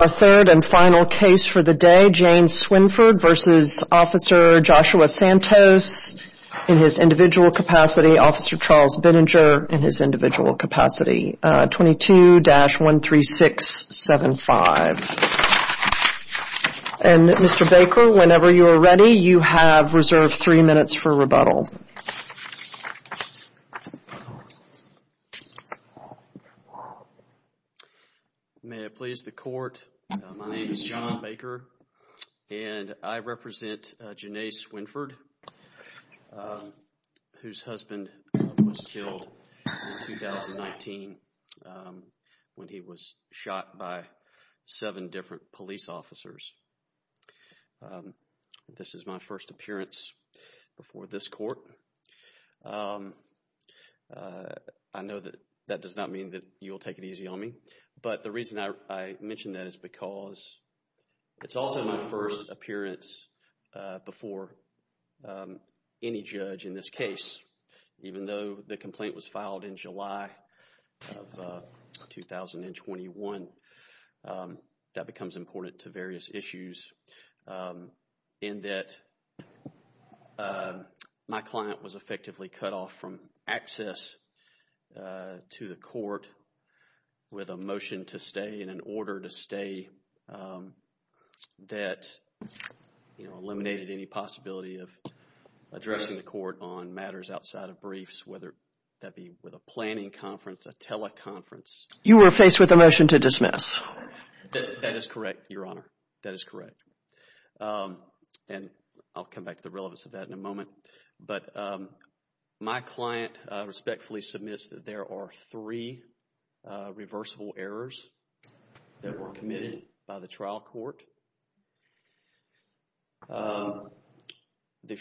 Our third and final case for the day, Jane Swinford v. Officer Joshua Santos in his individual capacity, Officer Charles Binninger in his individual capacity, 22-13675. And Mr. Baker, whenever you are ready, you have reserved three minutes for rebuttal. Mr. Baker May it please the court, my name is John Baker and I represent Jane Swinford, whose husband was killed in 2019 when he was shot by seven different police officers. This is my first appearance before this court. I know that that does not mean that you will take it easy on me, but the reason I mention that is because it's also my first appearance before any judge in this case, even though the complaint was filed in July of 2021. That becomes important to various issues in that my client was effectively cut off from access to the court with a motion to stay and an order to stay that eliminated any possibility of addressing the court on matters outside of briefs, whether that be with a planning conference, a teleconference. Jane Swinford You were faced with a motion to dismiss. Mr. Baker That is correct, Your Honor, that is correct. And I'll come back to the relevance of that in a moment. But my client respectfully submits that there are three reversible errors that were committed by the trial court. The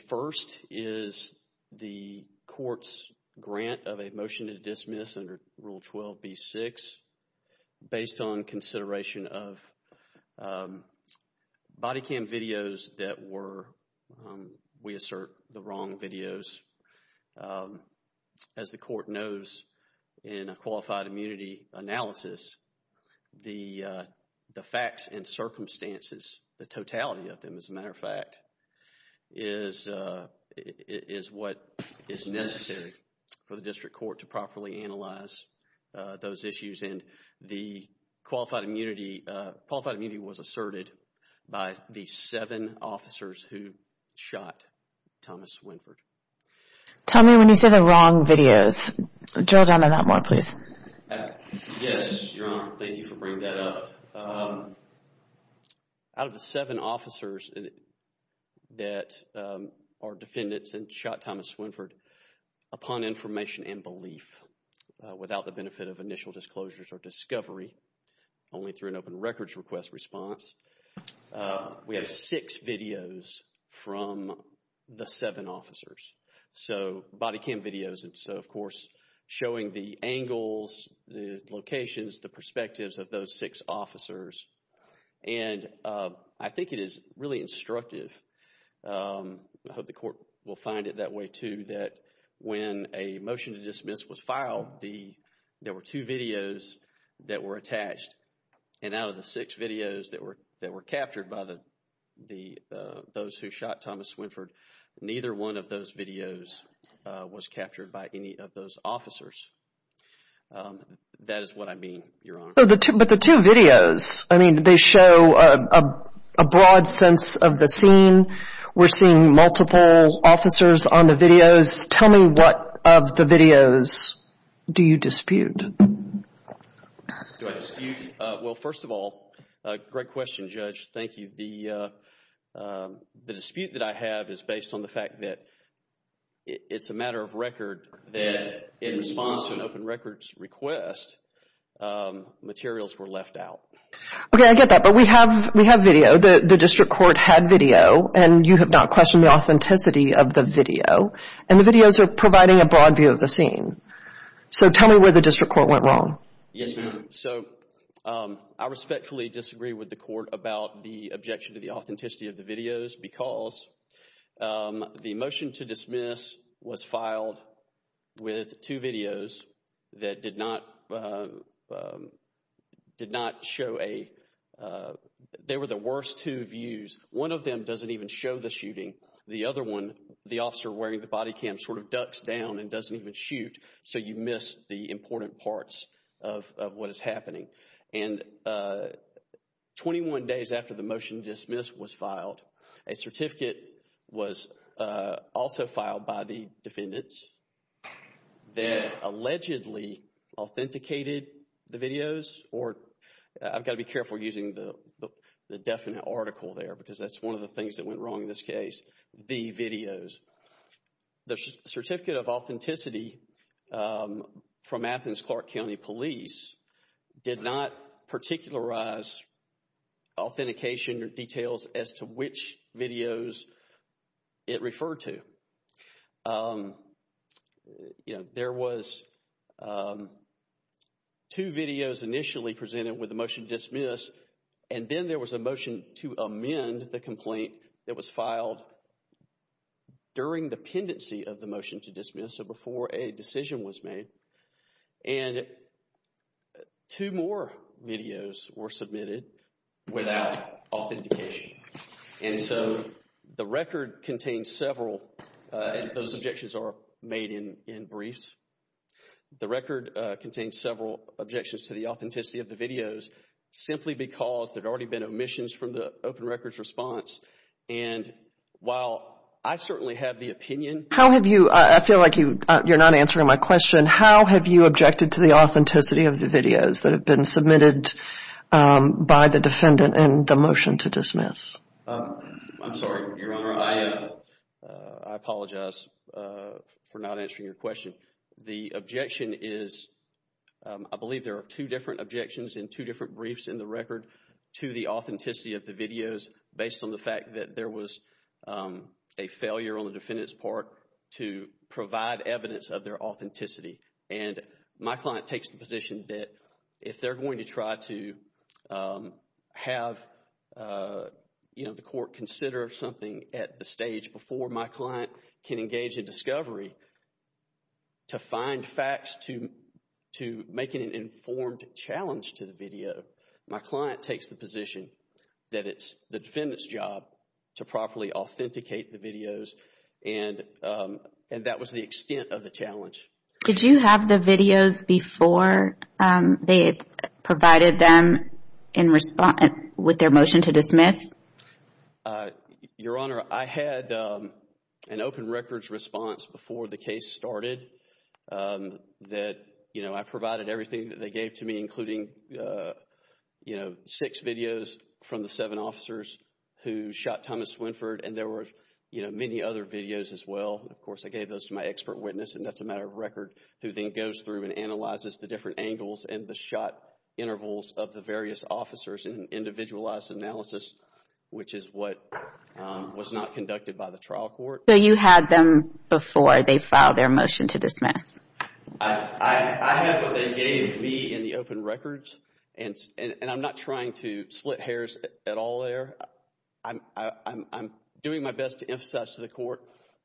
first is the court's grant of a motion to dismiss under Rule 12b-6 based on consideration of body cam videos that were, we assert, the wrong videos. As the court knows in a qualified immunity analysis, the facts and circumstances, the totality of them, as a matter of fact, is what is necessary for the district court to properly analyze those issues and the qualified immunity was asserted by the seven officers who shot Thomas Swinford. Jane Swinford Tell me when you say the wrong videos. Drill down on that more, please. Mr. Baker Yes, Your Honor, thank you for bringing that up. Out of the seven officers that are defendants that shot Thomas Swinford, upon information and belief, without the benefit of initial disclosures or discovery, only through an records request response, we have six videos from the seven officers. So body cam videos and so, of course, showing the angles, the locations, the perspectives of those six officers and I think it is really instructive, I hope the court will find it that way too, that when a motion to dismiss was filed, there were two videos that were the six videos that were captured by those who shot Thomas Swinford, neither one of those videos was captured by any of those officers. That is what I mean, Your Honor. Jane Swinford But the two videos, I mean, they show a broad sense of the scene, we are seeing multiple officers on the videos. Tell me what of the videos do you dispute? Judge McNaughton Do I dispute? Well, first of all, great question, Judge. Thank you. The dispute that I have is based on the fact that it is a matter of record that in response to an open records request, materials were left out. Jane Swinford Okay, I get that, but we have video. The district court had video and you have not questioned the authenticity of the video and the videos are providing a broad view of the scene. So, tell me where the district court went wrong. Judge McNaughton Yes, Your Honor, so I respectfully disagree with the court about the objection to the authenticity of the videos because the motion to dismiss was filed with two videos that did not show a, they were the worst two views. One of them does not even show the shooting, the other one, the officer wearing the body cam sort of ducks down and doesn't even shoot, so you miss the important parts of what is happening and 21 days after the motion to dismiss was filed, a certificate was also filed by the defendants that allegedly authenticated the videos or, I've got to be careful using the definite article there because that's one of the things that went wrong in this case, the videos. The certificate of authenticity from Athens-Clarke County Police did not particularize authentication or details as to which videos it referred to. There was two videos initially presented with the motion to dismiss and then there was a during the pendency of the motion to dismiss, so before a decision was made, and two more videos were submitted without authentication and so the record contains several, those objections are made in briefs, the record contains several objections to the authenticity of the videos simply because there had already been omissions from the open records response and while I certainly have the opinion. How have you, I feel like you're not answering my question, how have you objected to the authenticity of the videos that have been submitted by the defendant in the motion to dismiss? I'm sorry, Your Honor, I apologize for not answering your question. The objection is, I believe there are two different objections in two different briefs in the record to the authenticity of the videos based on the fact that there was a failure on the defendant's part to provide evidence of their authenticity and my client takes the position that if they're going to try to have, you know, the court consider something at the stage before my client can engage in discovery to find facts to making an informed challenge to the video, my client takes the position that it's the defendant's job to properly authenticate the videos and that was the extent of the challenge. Did you have the videos before they provided them in response, with their motion to dismiss? Your Honor, I had an open records response before the case started that, you know, I included, you know, six videos from the seven officers who shot Thomas Swinford and there were, you know, many other videos as well. Of course, I gave those to my expert witness and that's a matter of record who then goes through and analyzes the different angles and the shot intervals of the various officers in an individualized analysis, which is what was not conducted by the trial court. I have what they gave me in the open records and I'm not trying to split hairs at all there. I'm doing my best to emphasize to the court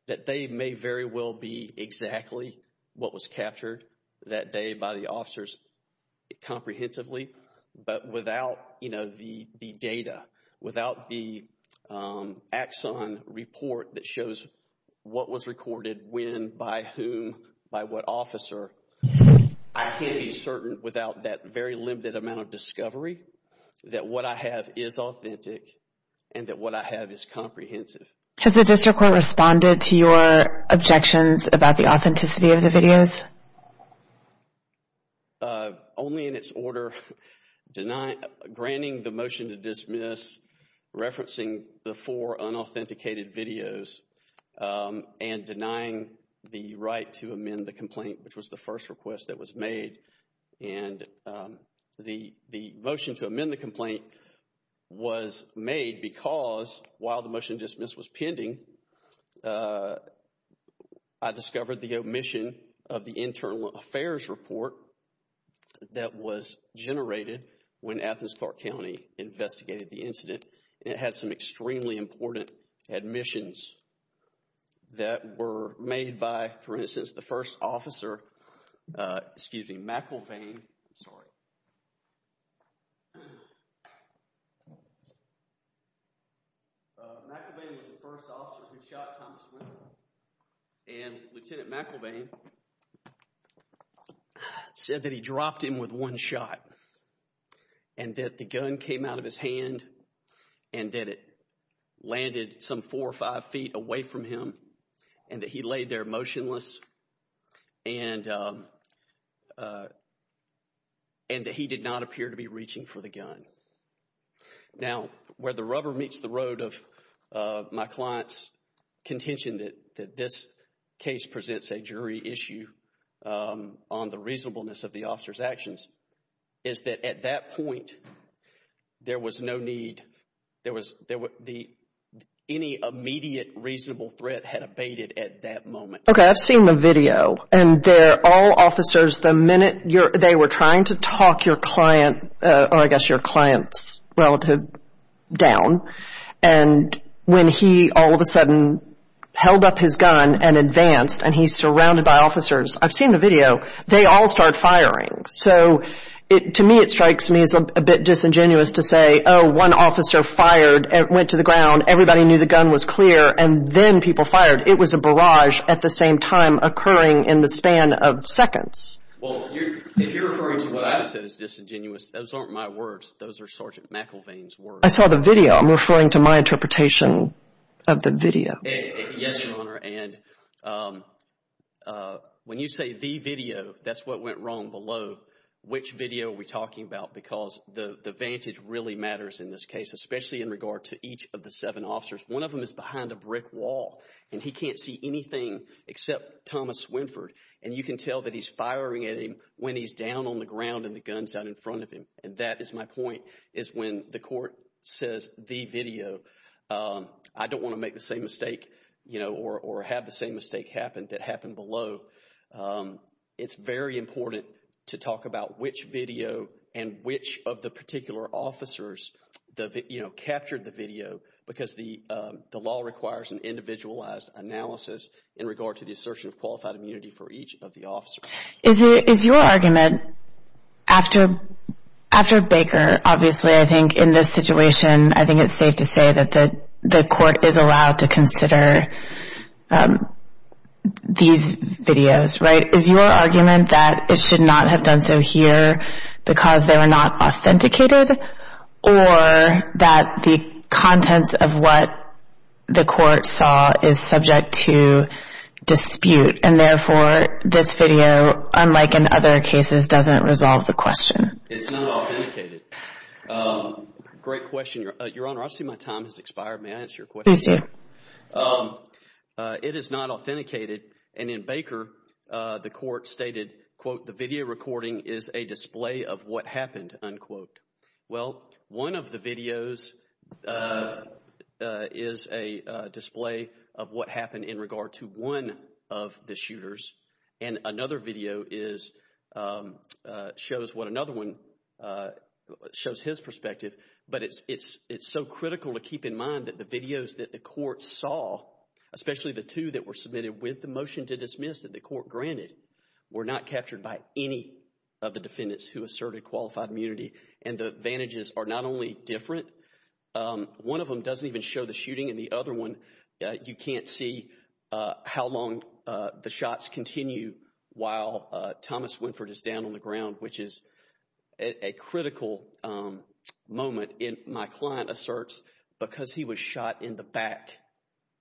that they may very well be exactly what was captured that day by the officers comprehensively, but without, you know, the data, without the officer, I can't be certain without that very limited amount of discovery that what I have is authentic and that what I have is comprehensive. Has the district court responded to your objections about the authenticity of the videos? Only in its order denying, granting the motion to dismiss, referencing the four unauthenticated videos and denying the right to amend the complaint, which was the first request that was made. And the motion to amend the complaint was made because while the motion dismiss was pending, I discovered the omission of the internal affairs report that was generated when Athens-Clarke County investigated the incident. It had some extremely important admissions that were made by, for instance, the first officer, excuse me, McElveen, sorry. McElveen was the first officer who shot Thomas Wendell and Lieutenant McElveen said that he dropped him with one shot and that the gun came out of his hand and that it landed some four or five feet away from him and that he laid there motionless and that he did not appear to be reaching for the gun. Now, where the rubber meets the road of my client's contention that this case presents a jury issue on the reasonableness of the officer's actions is that at that point, there was no need, any immediate reasonable threat had abated at that moment. Okay, I've seen the video and they're all officers, the minute they were trying to talk your client or I guess your client's relative down and when he all of a sudden held up his gun and advanced and he's surrounded by officers, I've seen the video, they all start firing. So, to me, it strikes me as a bit disingenuous to say, oh, one officer fired and went to the ground, everybody knew the gun was clear and then people fired. It was a barrage at the same time occurring in the span of seconds. Well, if you're referring to what I've said as disingenuous, those aren't my words, those are Sergeant McElveen's words. I saw the video, I'm referring to my interpretation of the video. Yes, Your Honor, and when you say the video, that's what went wrong below. Which video are we talking about? Because the advantage really matters in this case, especially in regard to each of the seven officers. One of them is behind a brick wall and he can't see anything except Thomas Swinford and you can tell that he's firing at him when he's down on the ground and the gun's out in front of him. And that is my point, is when the court says the video, I don't want to make the same mistake, you know, or have the same mistake happen that happened below. It's very important to talk about which video and which of the particular officers, you know, captured the video because the law requires an individualized analysis in regard to the assertion of qualified immunity for each of the officers. Is your argument, after Baker, obviously, I think in this situation, I think it's safe to say that the court is allowed to consider these videos, right? Is your argument that it should not have done so here because they were not authenticated or that the contents of what the court saw is subject to unlike in other cases doesn't resolve the question? It's not authenticated. Great question, Your Honor. I see my time has expired. May I answer your question? It is not authenticated and in Baker, the court stated, quote, the video recording is a display of what happened, unquote. Well, one of the videos is a display of what happened in regard to one of the shooters and another video is, shows what another one, shows his perspective, but it's so critical to keep in mind that the videos that the court saw, especially the two that were submitted with the motion to dismiss that the court granted, were not captured by any of the defendants who asserted qualified immunity and the advantages are not only different. One of them doesn't even show the shooting and the other one, you can't see how long the shots continue while Thomas Winford is down on the ground, which is a critical moment in my client asserts because he was shot in the back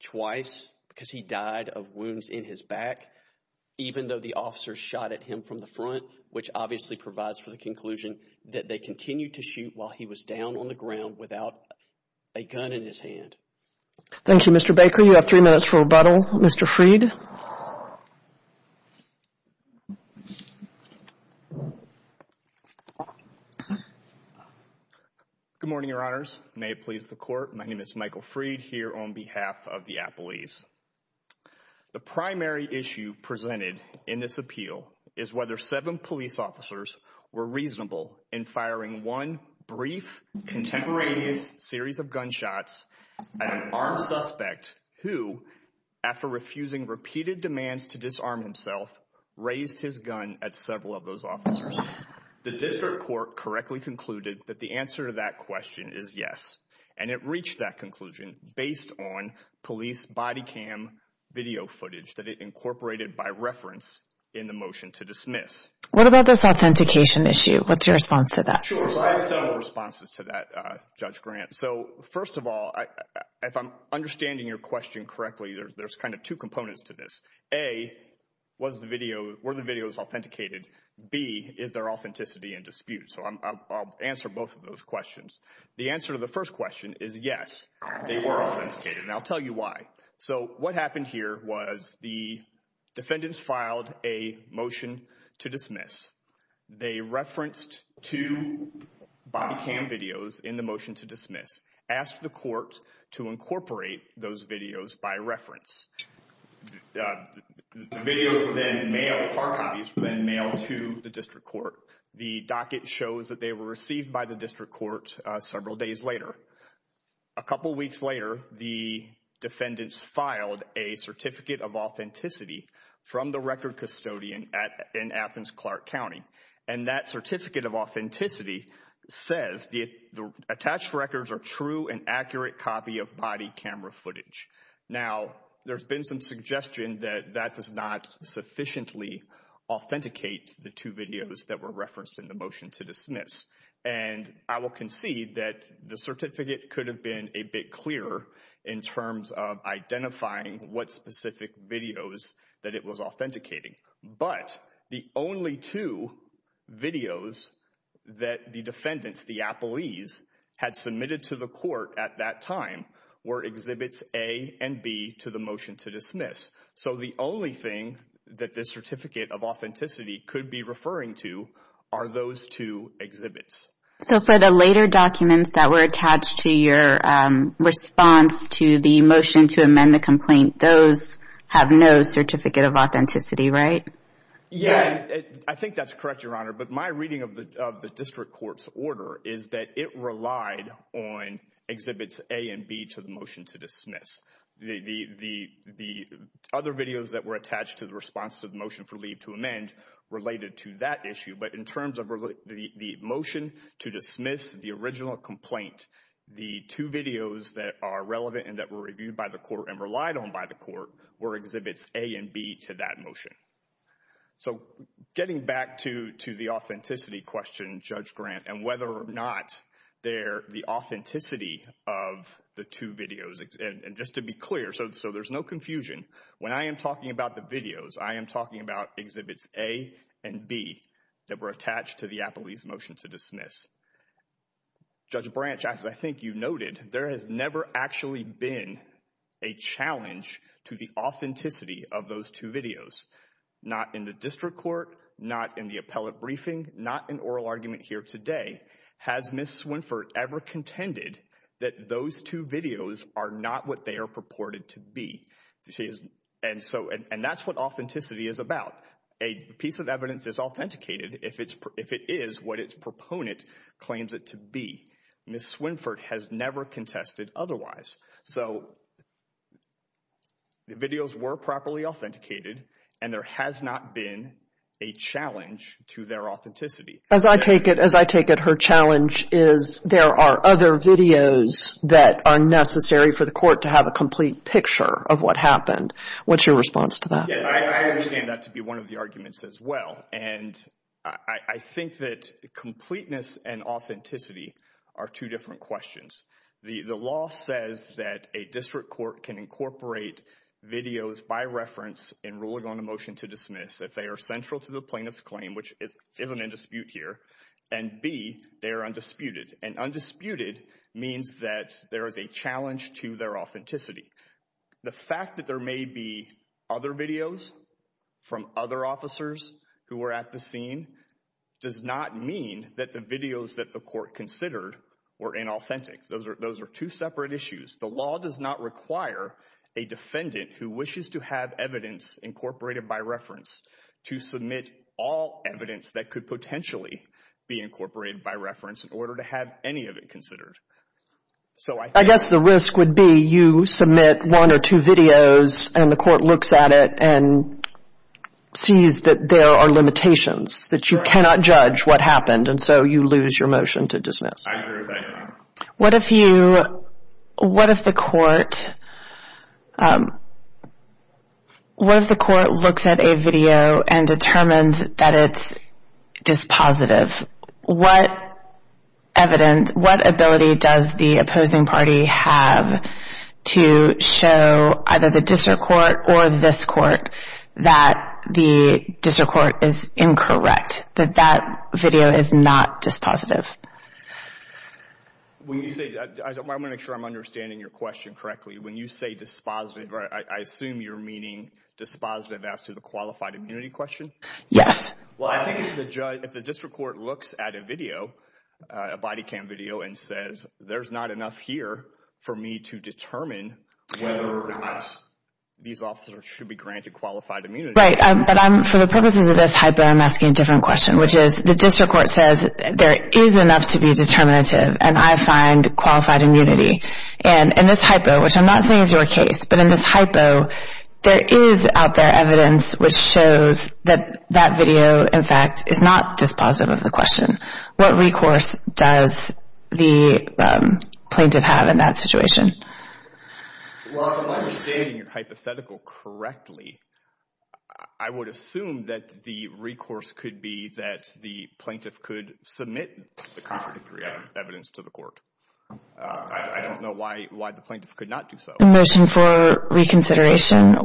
twice because he died of wounds in his back, even though the officer shot at him from the front, which obviously provides for the conclusion that they continue to shoot while he was down on the ground without a gun in his hand. Thank you, Mr. Baker. You have three minutes for rebuttal. Mr. Freed. Good morning, Your Honors. May it please the court. My name is Michael Freed here on behalf of the Appellees. The primary issue presented in this appeal is whether seven police officers were reasonable in firing one brief, contemporaneous series of gunshots at an armed suspect who, after refusing repeated demands to disarm himself, raised his gun at several of those officers. The district court correctly concluded that the answer to that question is yes, and it reached that conclusion based on police body cam video footage that it incorporated by reference in the motion to dismiss. What about this authentication issue? What's your response to that? I have several responses to that, Judge Grant. First of all, if I'm understanding your question correctly, there's kind of two components to this. A, were the videos authenticated? B, is there authenticity in dispute? I'll answer both of those questions. The answer to the first question is yes, they were authenticated, and I'll tell you why. So what happened here was the defendants filed a motion to dismiss. They referenced two body cam videos in the motion to dismiss, asked the court to incorporate those videos by reference. The videos were then mailed, car copies, were then mailed to the district court. The docket shows that they were received by the district court several days later. A couple weeks later, the defendants filed a Certificate of Authenticity from the record custodian in Athens-Clarke County, and that Certificate of Authenticity says the attached records are true and accurate copy of body camera footage. Now, there's been some suggestion that that does not sufficiently authenticate the two videos in the motion to dismiss, and I will concede that the certificate could have been a bit clearer in terms of identifying what specific videos that it was authenticating, but the only two videos that the defendants, the appellees, had submitted to the court at that time were exhibits A and B to the motion to dismiss. So the only thing that the Certificate of Authenticity could be referring to are those two exhibits. So for the later documents that were attached to your response to the motion to amend the complaint, those have no Certificate of Authenticity, right? Yeah, I think that's correct, Your Honor, but my reading of the district court's order is that it relied on exhibits A and B to the motion to dismiss. The other videos that were attached to the response to the motion for leave to amend related to that issue, but in terms of the motion to dismiss the original complaint, the two videos that are relevant and that were reviewed by the court and relied on by the court were exhibits A and B to that motion. So getting back to the authenticity question, Judge Grant, and whether or not they're the authenticity of the two videos, and just to be clear, so there's no confusion, when I am talking about the videos, I am talking about exhibits A and B that were attached to the appellee's motion to dismiss. Judge Branch, as I think you noted, there has never actually been a challenge to the authenticity of those two videos, not in the district court, not in the appellate briefing, not in oral argument here today, has Ms. Swinford ever contended that those two videos are not what they are purported to be? And that's what authenticity is about. A piece of evidence is authenticated if it is what its proponent claims it to be. Ms. Swinford has never contested otherwise. So the videos were properly authenticated and there has not been a challenge to their authenticity. As I take it, her challenge is there are other videos that are necessary for the court to have a complete picture of what happened. What's your response to that? I understand that to be one of the arguments as well. And I think that completeness and authenticity are two different questions. The law says that a district court can incorporate videos by reference in ruling on a motion to dismiss if they are central to the plaintiff's claim, which isn't in dispute here, and B, they're undisputed. And undisputed means that there is a challenge to their authenticity. The fact that there may be other videos from other officers who were at the scene does not mean that the videos that the court considered were inauthentic. Those are two separate issues. The law does not require a defendant who wishes to have evidence incorporated by reference to submit all evidence that could potentially be incorporated by reference in order to have any of it considered. I guess the risk would be you submit one or two videos and the court looks at it and sees that there are limitations, that you cannot judge what happened, and so you lose your motion to dismiss. I agree with that. What if the court looks at a video and determines that it is positive? What ability does the opposing party have to show either the district court or this court that the district court is incorrect, that that video is not dispositive? I want to make sure I'm understanding your question correctly. When you say dispositive, I assume you're meaning dispositive as to the qualified immunity question? Yes. Well, I think if the district court looks at a video, a body cam video, and says there's not enough here for me to determine whether or not these officers should be granted qualified immunity. Right, but for the purposes of this hypo, I'm asking a different question, which is the district court says there is enough to be determinative and I find qualified immunity. In this hypo, which I'm not saying is your case, but in this hypo, there is out there evidence which shows that that video, in fact, is not dispositive of the question. What recourse does the plaintiff have in that situation? Well, if I'm understanding your hypothetical correctly, I would assume that the recourse could be that the plaintiff could submit the contradictory evidence to the court. I don't know why the plaintiff could not do so. A motion for reconsideration?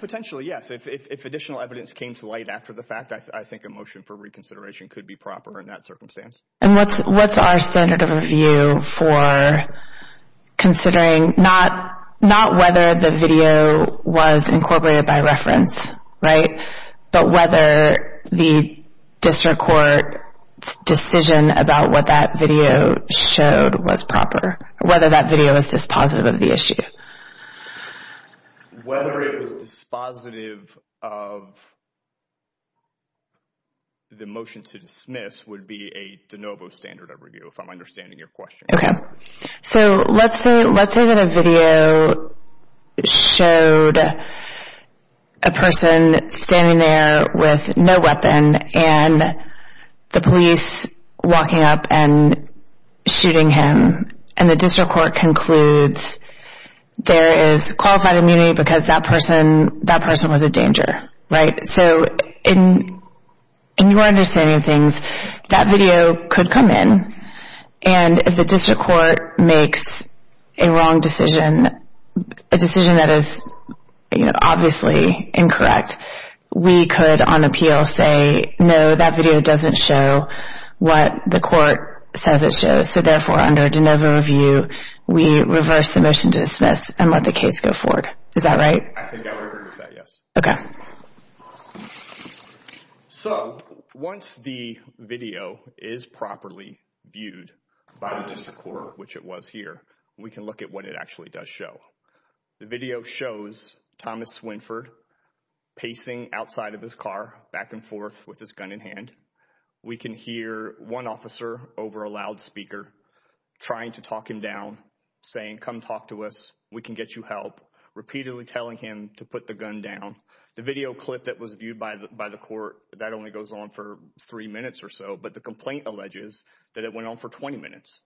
Potentially, yes. If additional evidence came to light after the fact, I think a motion for reconsideration would be a different circumstance. And what's our standard of review for considering not whether the video was incorporated by reference, right, but whether the district court decision about what that video showed was proper, whether that video was dispositive of the issue? Whether it was dispositive of the motion to dismiss would be a de novo standard of review, if I'm understanding your question. Okay, so let's say that a video showed a person standing there with no weapon and the police walking up and shooting him and the district court concludes there is qualified immunity because that video was disproved. So, in your understanding of things, that video could come in and if the district court makes a wrong decision, a decision that is obviously incorrect, we could on appeal say, no, that video doesn't show what the court says it shows. So therefore, under a de novo review, we reverse the motion to dismiss and let the case go forward. Is that right? I think I would agree. So once the video is properly viewed by the district court, which it was here, we can look at what it actually does show. The video shows Thomas Swinford pacing outside of his car back and forth with his gun in hand. We can hear one officer over a loudspeaker trying to talk him down, saying, come talk to us, we can get you help, repeatedly telling him to put gun down. The video clip that was viewed by the court, that only goes on for three minutes or so, but the complaint alleges that it went on for 20 minutes.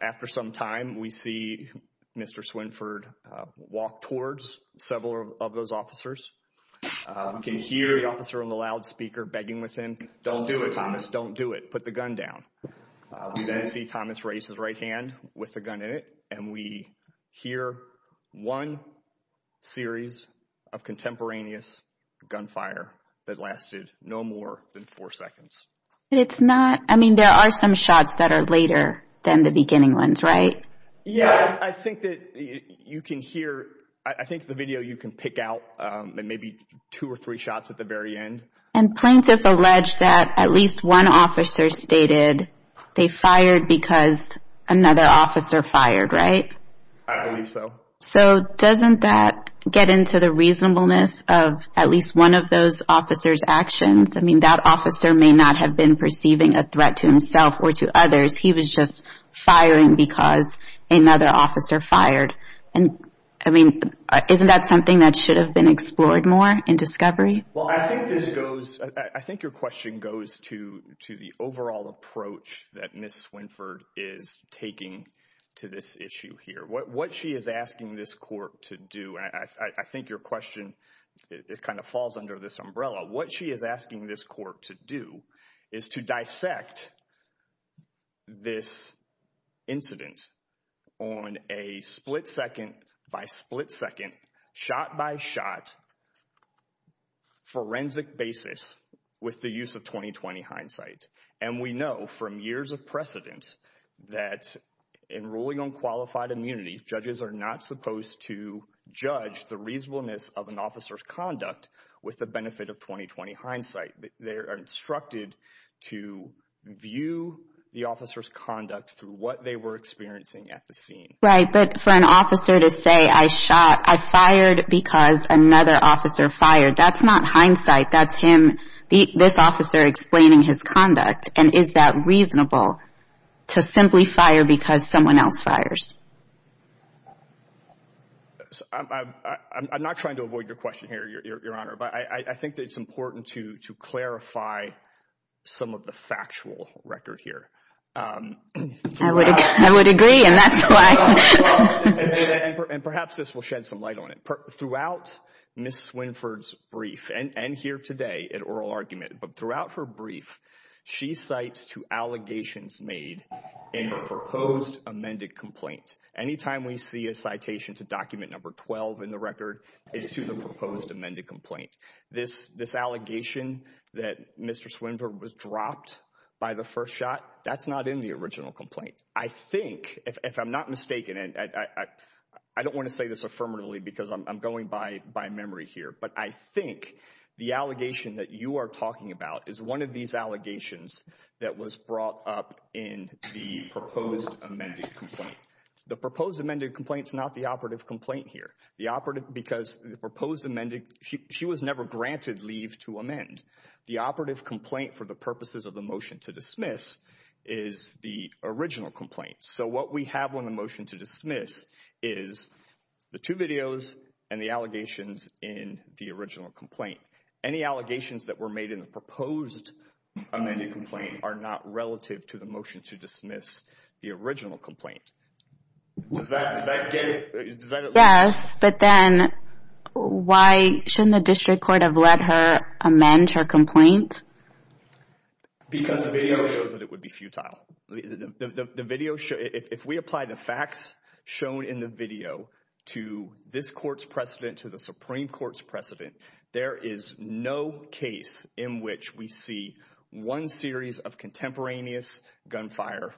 After some time, we see Mr. Swinford walk towards several of those officers. We can hear the officer on the loudspeaker begging with him, don't do it Thomas, don't do it, put the gun down. We then see Thomas raise his right hand with the gun in it and we hear one series of contemporaneous gunfire that lasted no more than four seconds. It's not, I mean, there are some shots that are later than the beginning ones, right? Yeah, I think that you can hear, I think the video you can pick out, maybe two or three shots at the very end. And plaintiff alleged that at least one officer stated they fired because another officer fired, right? I believe so. So doesn't that get into the reasonableness of at least one of those officers actions? I mean, that officer may not have been perceiving a threat to himself or to others. He was just firing because another officer fired. And I mean, isn't that something that should have been explored more in discovery? Well, I think this goes, I think your question goes to the overall approach that Ms. Swinford is taking to this issue here. What she is asking this court to do, and I think your question, it kind of falls under this umbrella, what she is asking this court to do is to dissect this incident on a split second by split second, shot by shot, forensic basis with the use of 20-20 hindsight. And we know from years of precedent that in ruling on qualified immunity, judges are not supposed to judge the reasonableness of an officer's conduct with the benefit of 20-20 hindsight. They are instructed to view the officer's conduct through what they were experiencing at the scene. Right, but for an officer to be fired because another officer fired, that's not hindsight, that's him, this officer explaining his conduct. And is that reasonable to simply fire because someone else fires? I'm not trying to avoid your question here, your honor, but I think that it's important to clarify some of the factual record here. I would agree, and that's why. And perhaps this will shed some light on it. Throughout Ms. Swinford's brief, and here today in oral argument, but throughout her brief, she cites two allegations made in her proposed amended complaint. Anytime we see a citation to document number 12 in the record, it's to the proposed amended complaint. This allegation that Mr. Swinford was dropped by the first shot, that's not in the original complaint. I think, if I'm not mistaken, and I don't want to say this affirmatively because I'm going by memory here, but I think the allegation that you are talking about is one of these allegations that was brought up in the proposed amended complaint. The proposed amended complaint is not the operative complaint here. The operative, because the proposed amended, she was never granted leave to amend. The operative complaint for the purposes of the motion to dismiss is the original complaint. So what we have on the motion to dismiss is the two videos and the allegations in the original complaint. Any allegations that were made in the proposed amended complaint are not relative to the motion to dismiss the original complaint. Does that get it? Yes, but then why shouldn't the district court have let her amend her complaint? Because the video shows that it would be futile. The video, if we apply the facts shown in the video to this court's precedent, to the Supreme Court's precedent, there is no case in which we see one series of contemporaneous gunfire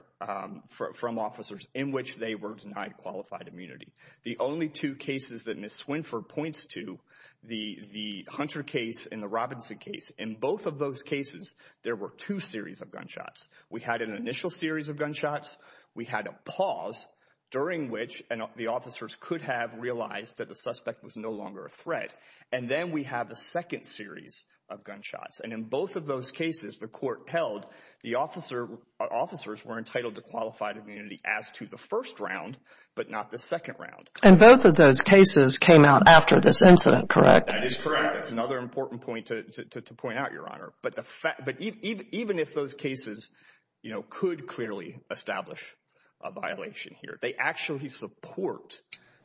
from officers in which they were denied qualified immunity. The only two cases that Ms. Swinford points to, the Hunter case and the Robinson case, in both of those cases, there were two series of gunshots. We had an initial series of gunshots. We had a pause during which the officers could have realized that the suspect was no longer a threat. And then we have a second series of gunshots. And in both of those cases, the court held the officers were entitled to qualified immunity as to the first round, but not the second round. And both of those cases came out after this incident, correct? That is correct. That's another important point to point out, Your Honor. But even if those cases, you know, could clearly establish a violation here, they actually support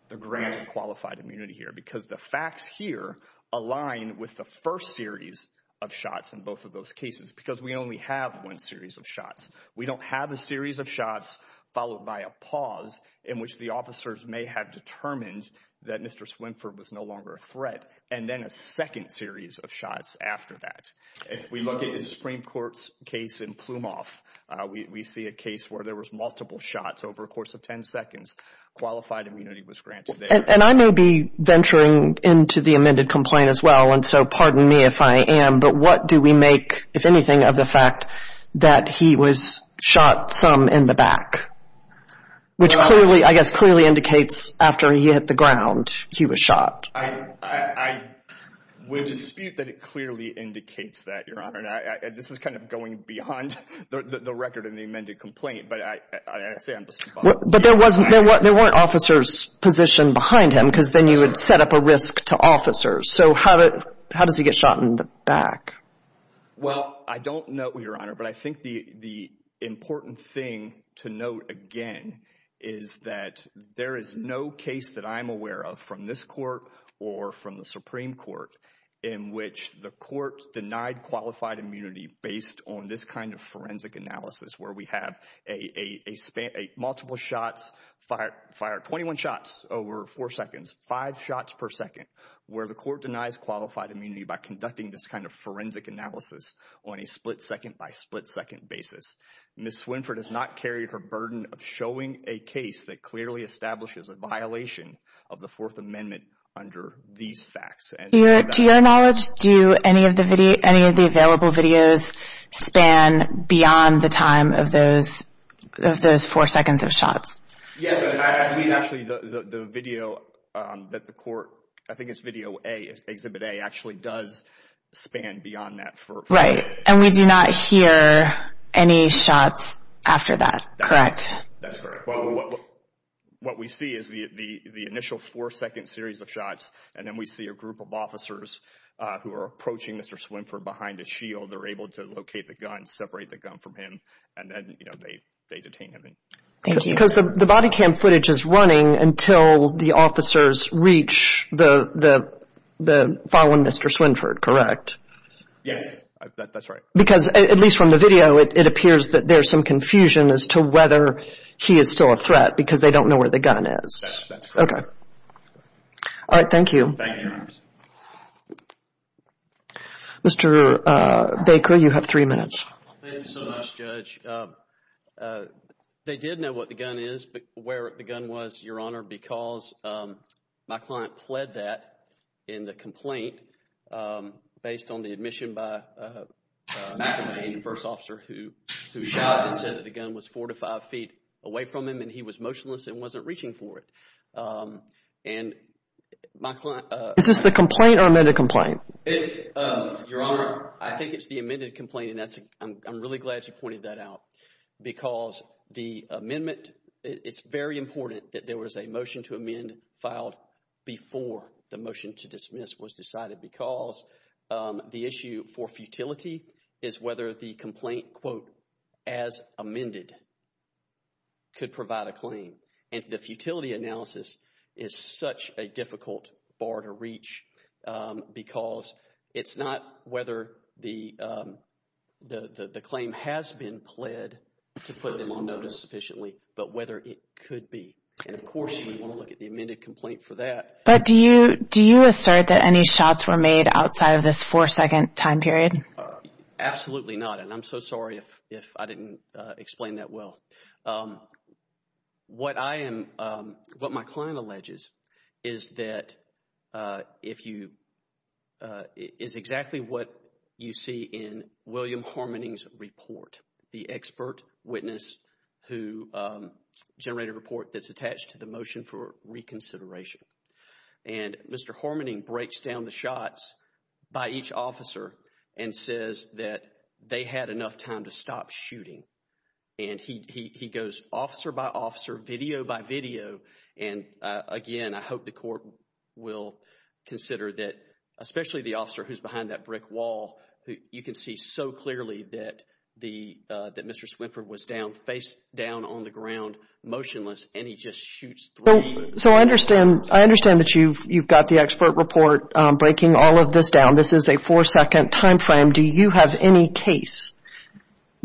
the grant of qualified immunity here because the facts here align with the first series of shots in both of those cases because we only have one series of shots. We don't have a series of shots followed by a pause in which the officers may have determined that Mr. Swinford was no longer a threat and then a second series of shots after that. If we look at the Supreme Court's case in Plumoff, we see a case where there was multiple shots over a course of 10 seconds. Qualified immunity was granted there. And I may be venturing into the amended complaint as well. And so pardon me if I am, but what do we make, if anything, of the fact that he was shot some in the back, which clearly, I guess, clearly indicates after he hit the ground, he was shot? I would dispute that it clearly indicates that, Your Honor. And this is kind of going beyond the record in the amended complaint. But I say I'm just... But there wasn't, there weren't officers positioned behind him because then you would set up a risk to officers. So how does he get shot in the back? Well, I don't know, Your Honor, but I think the important thing to note again is that there is no case that I'm aware of from this court or from the Supreme Court in which the court denied qualified immunity based on this kind of forensic analysis, where we have a span, multiple shots fired, 21 shots over four seconds, five shots per second, where the court denies qualified immunity by conducting this kind of investigation. Ms. Swinford has not carried her burden of showing a case that clearly establishes a violation of the Fourth Amendment under these facts. To your knowledge, do any of the available videos span beyond the time of those four seconds of shots? Yes, actually, the video that the court, I think it's video A, Exhibit A, actually does span beyond that. Right. And we do not hear any shots after that, correct? That's correct. Well, what we see is the initial four-second series of shots, and then we see a group of officers who are approaching Mr. Swinford behind a shield. They're able to locate the gun, separate the gun from him, and then they detain him. Because the body cam footage is running until the officers reach the fallen Mr. Swinford, correct? Yes, that's right. Because, at least from the video, it appears that there's some confusion as to whether he is still a threat because they don't know where the gun is. That's correct. Okay. All right, thank you. Thank you, Your Honor. Mr. Baker, you have three minutes. Thank you so much, Judge. They did know what the gun is, where the gun was, Your Honor, because my client pled that in the complaint based on the admission by McElmaine, the first officer who shot and said that the gun was four to five feet away from him, and he was motionless and wasn't reaching for it. And my client... Is this the complaint or amended complaint? Your Honor, I think it's the amended complaint, and I'm really glad you pointed that out. Because the amendment, it's very important that there was a motion to amend filed before the was decided because the issue for futility is whether the complaint, quote, as amended could provide a claim. And the futility analysis is such a difficult bar to reach because it's not whether the claim has been pled to put them on notice sufficiently, but whether it could be. And, of course, you want to look at the amended complaint for that. But do you, do you assert that any shots were made outside of this four-second time period? Absolutely not. And I'm so sorry if I didn't explain that well. What I am, what my client alleges is that if you, is exactly what you see in William Harmoning's report, the expert witness who generated a report that's attached to the consideration. And Mr. Harmoning breaks down the shots by each officer and says that they had enough time to stop shooting. And he goes officer by officer, video by video. And again, I hope the court will consider that, especially the officer who's behind that brick wall, who you can see so clearly that the, that Mr. Swinford was down, face down on the ground, motionless, and he just So, I understand, I understand that you've, you've got the expert report breaking all of this down. This is a four-second time frame. Do you have any case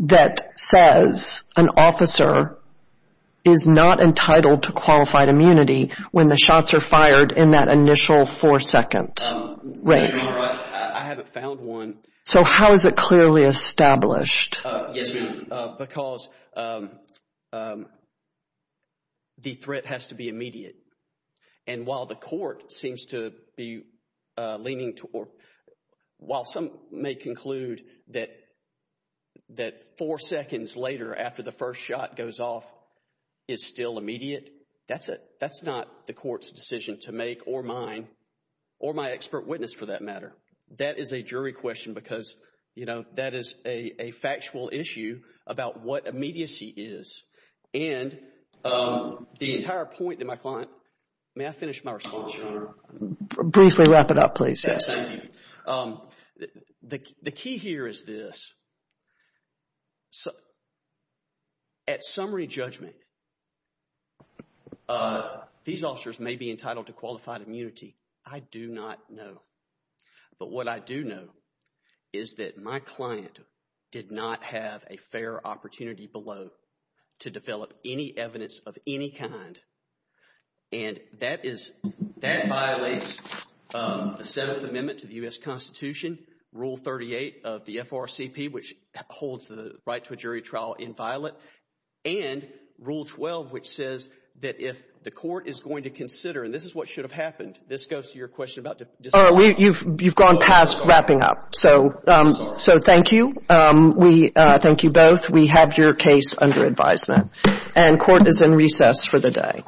that says an officer is not entitled to qualified immunity when the shots are fired in that initial four-second rate? I haven't found one. So, how is it clearly established? Yes, because the threat has to be immediate. And while the court seems to be leaning toward, while some may conclude that, that four seconds later after the first shot goes off is still immediate, that's it. That's not the court's decision to make or mine, or my expert witness for that matter. That is a jury question because, you know, that is a factual issue about what immediacy is. And the entire point that my client, may I finish my response, Your Honor? Briefly wrap it up, please. Yes. Thank you. The key here is this. At summary judgment, these officers may be entitled to qualified immunity. I do not know. But what I do know is that my client did not have a fair opportunity below to develop any evidence of any kind. And that is, that violates the Seventh Amendment to the U.S. Constitution, Rule 38 of the FRCP, which holds the right to a jury trial inviolate, and Rule 12, which says that if the court is going to consider, and this is what should have happened, this goes to your question about disqualification. You've gone past wrapping up. So, thank you. We thank you both. We have your case under advisement. And court is in recess for the day.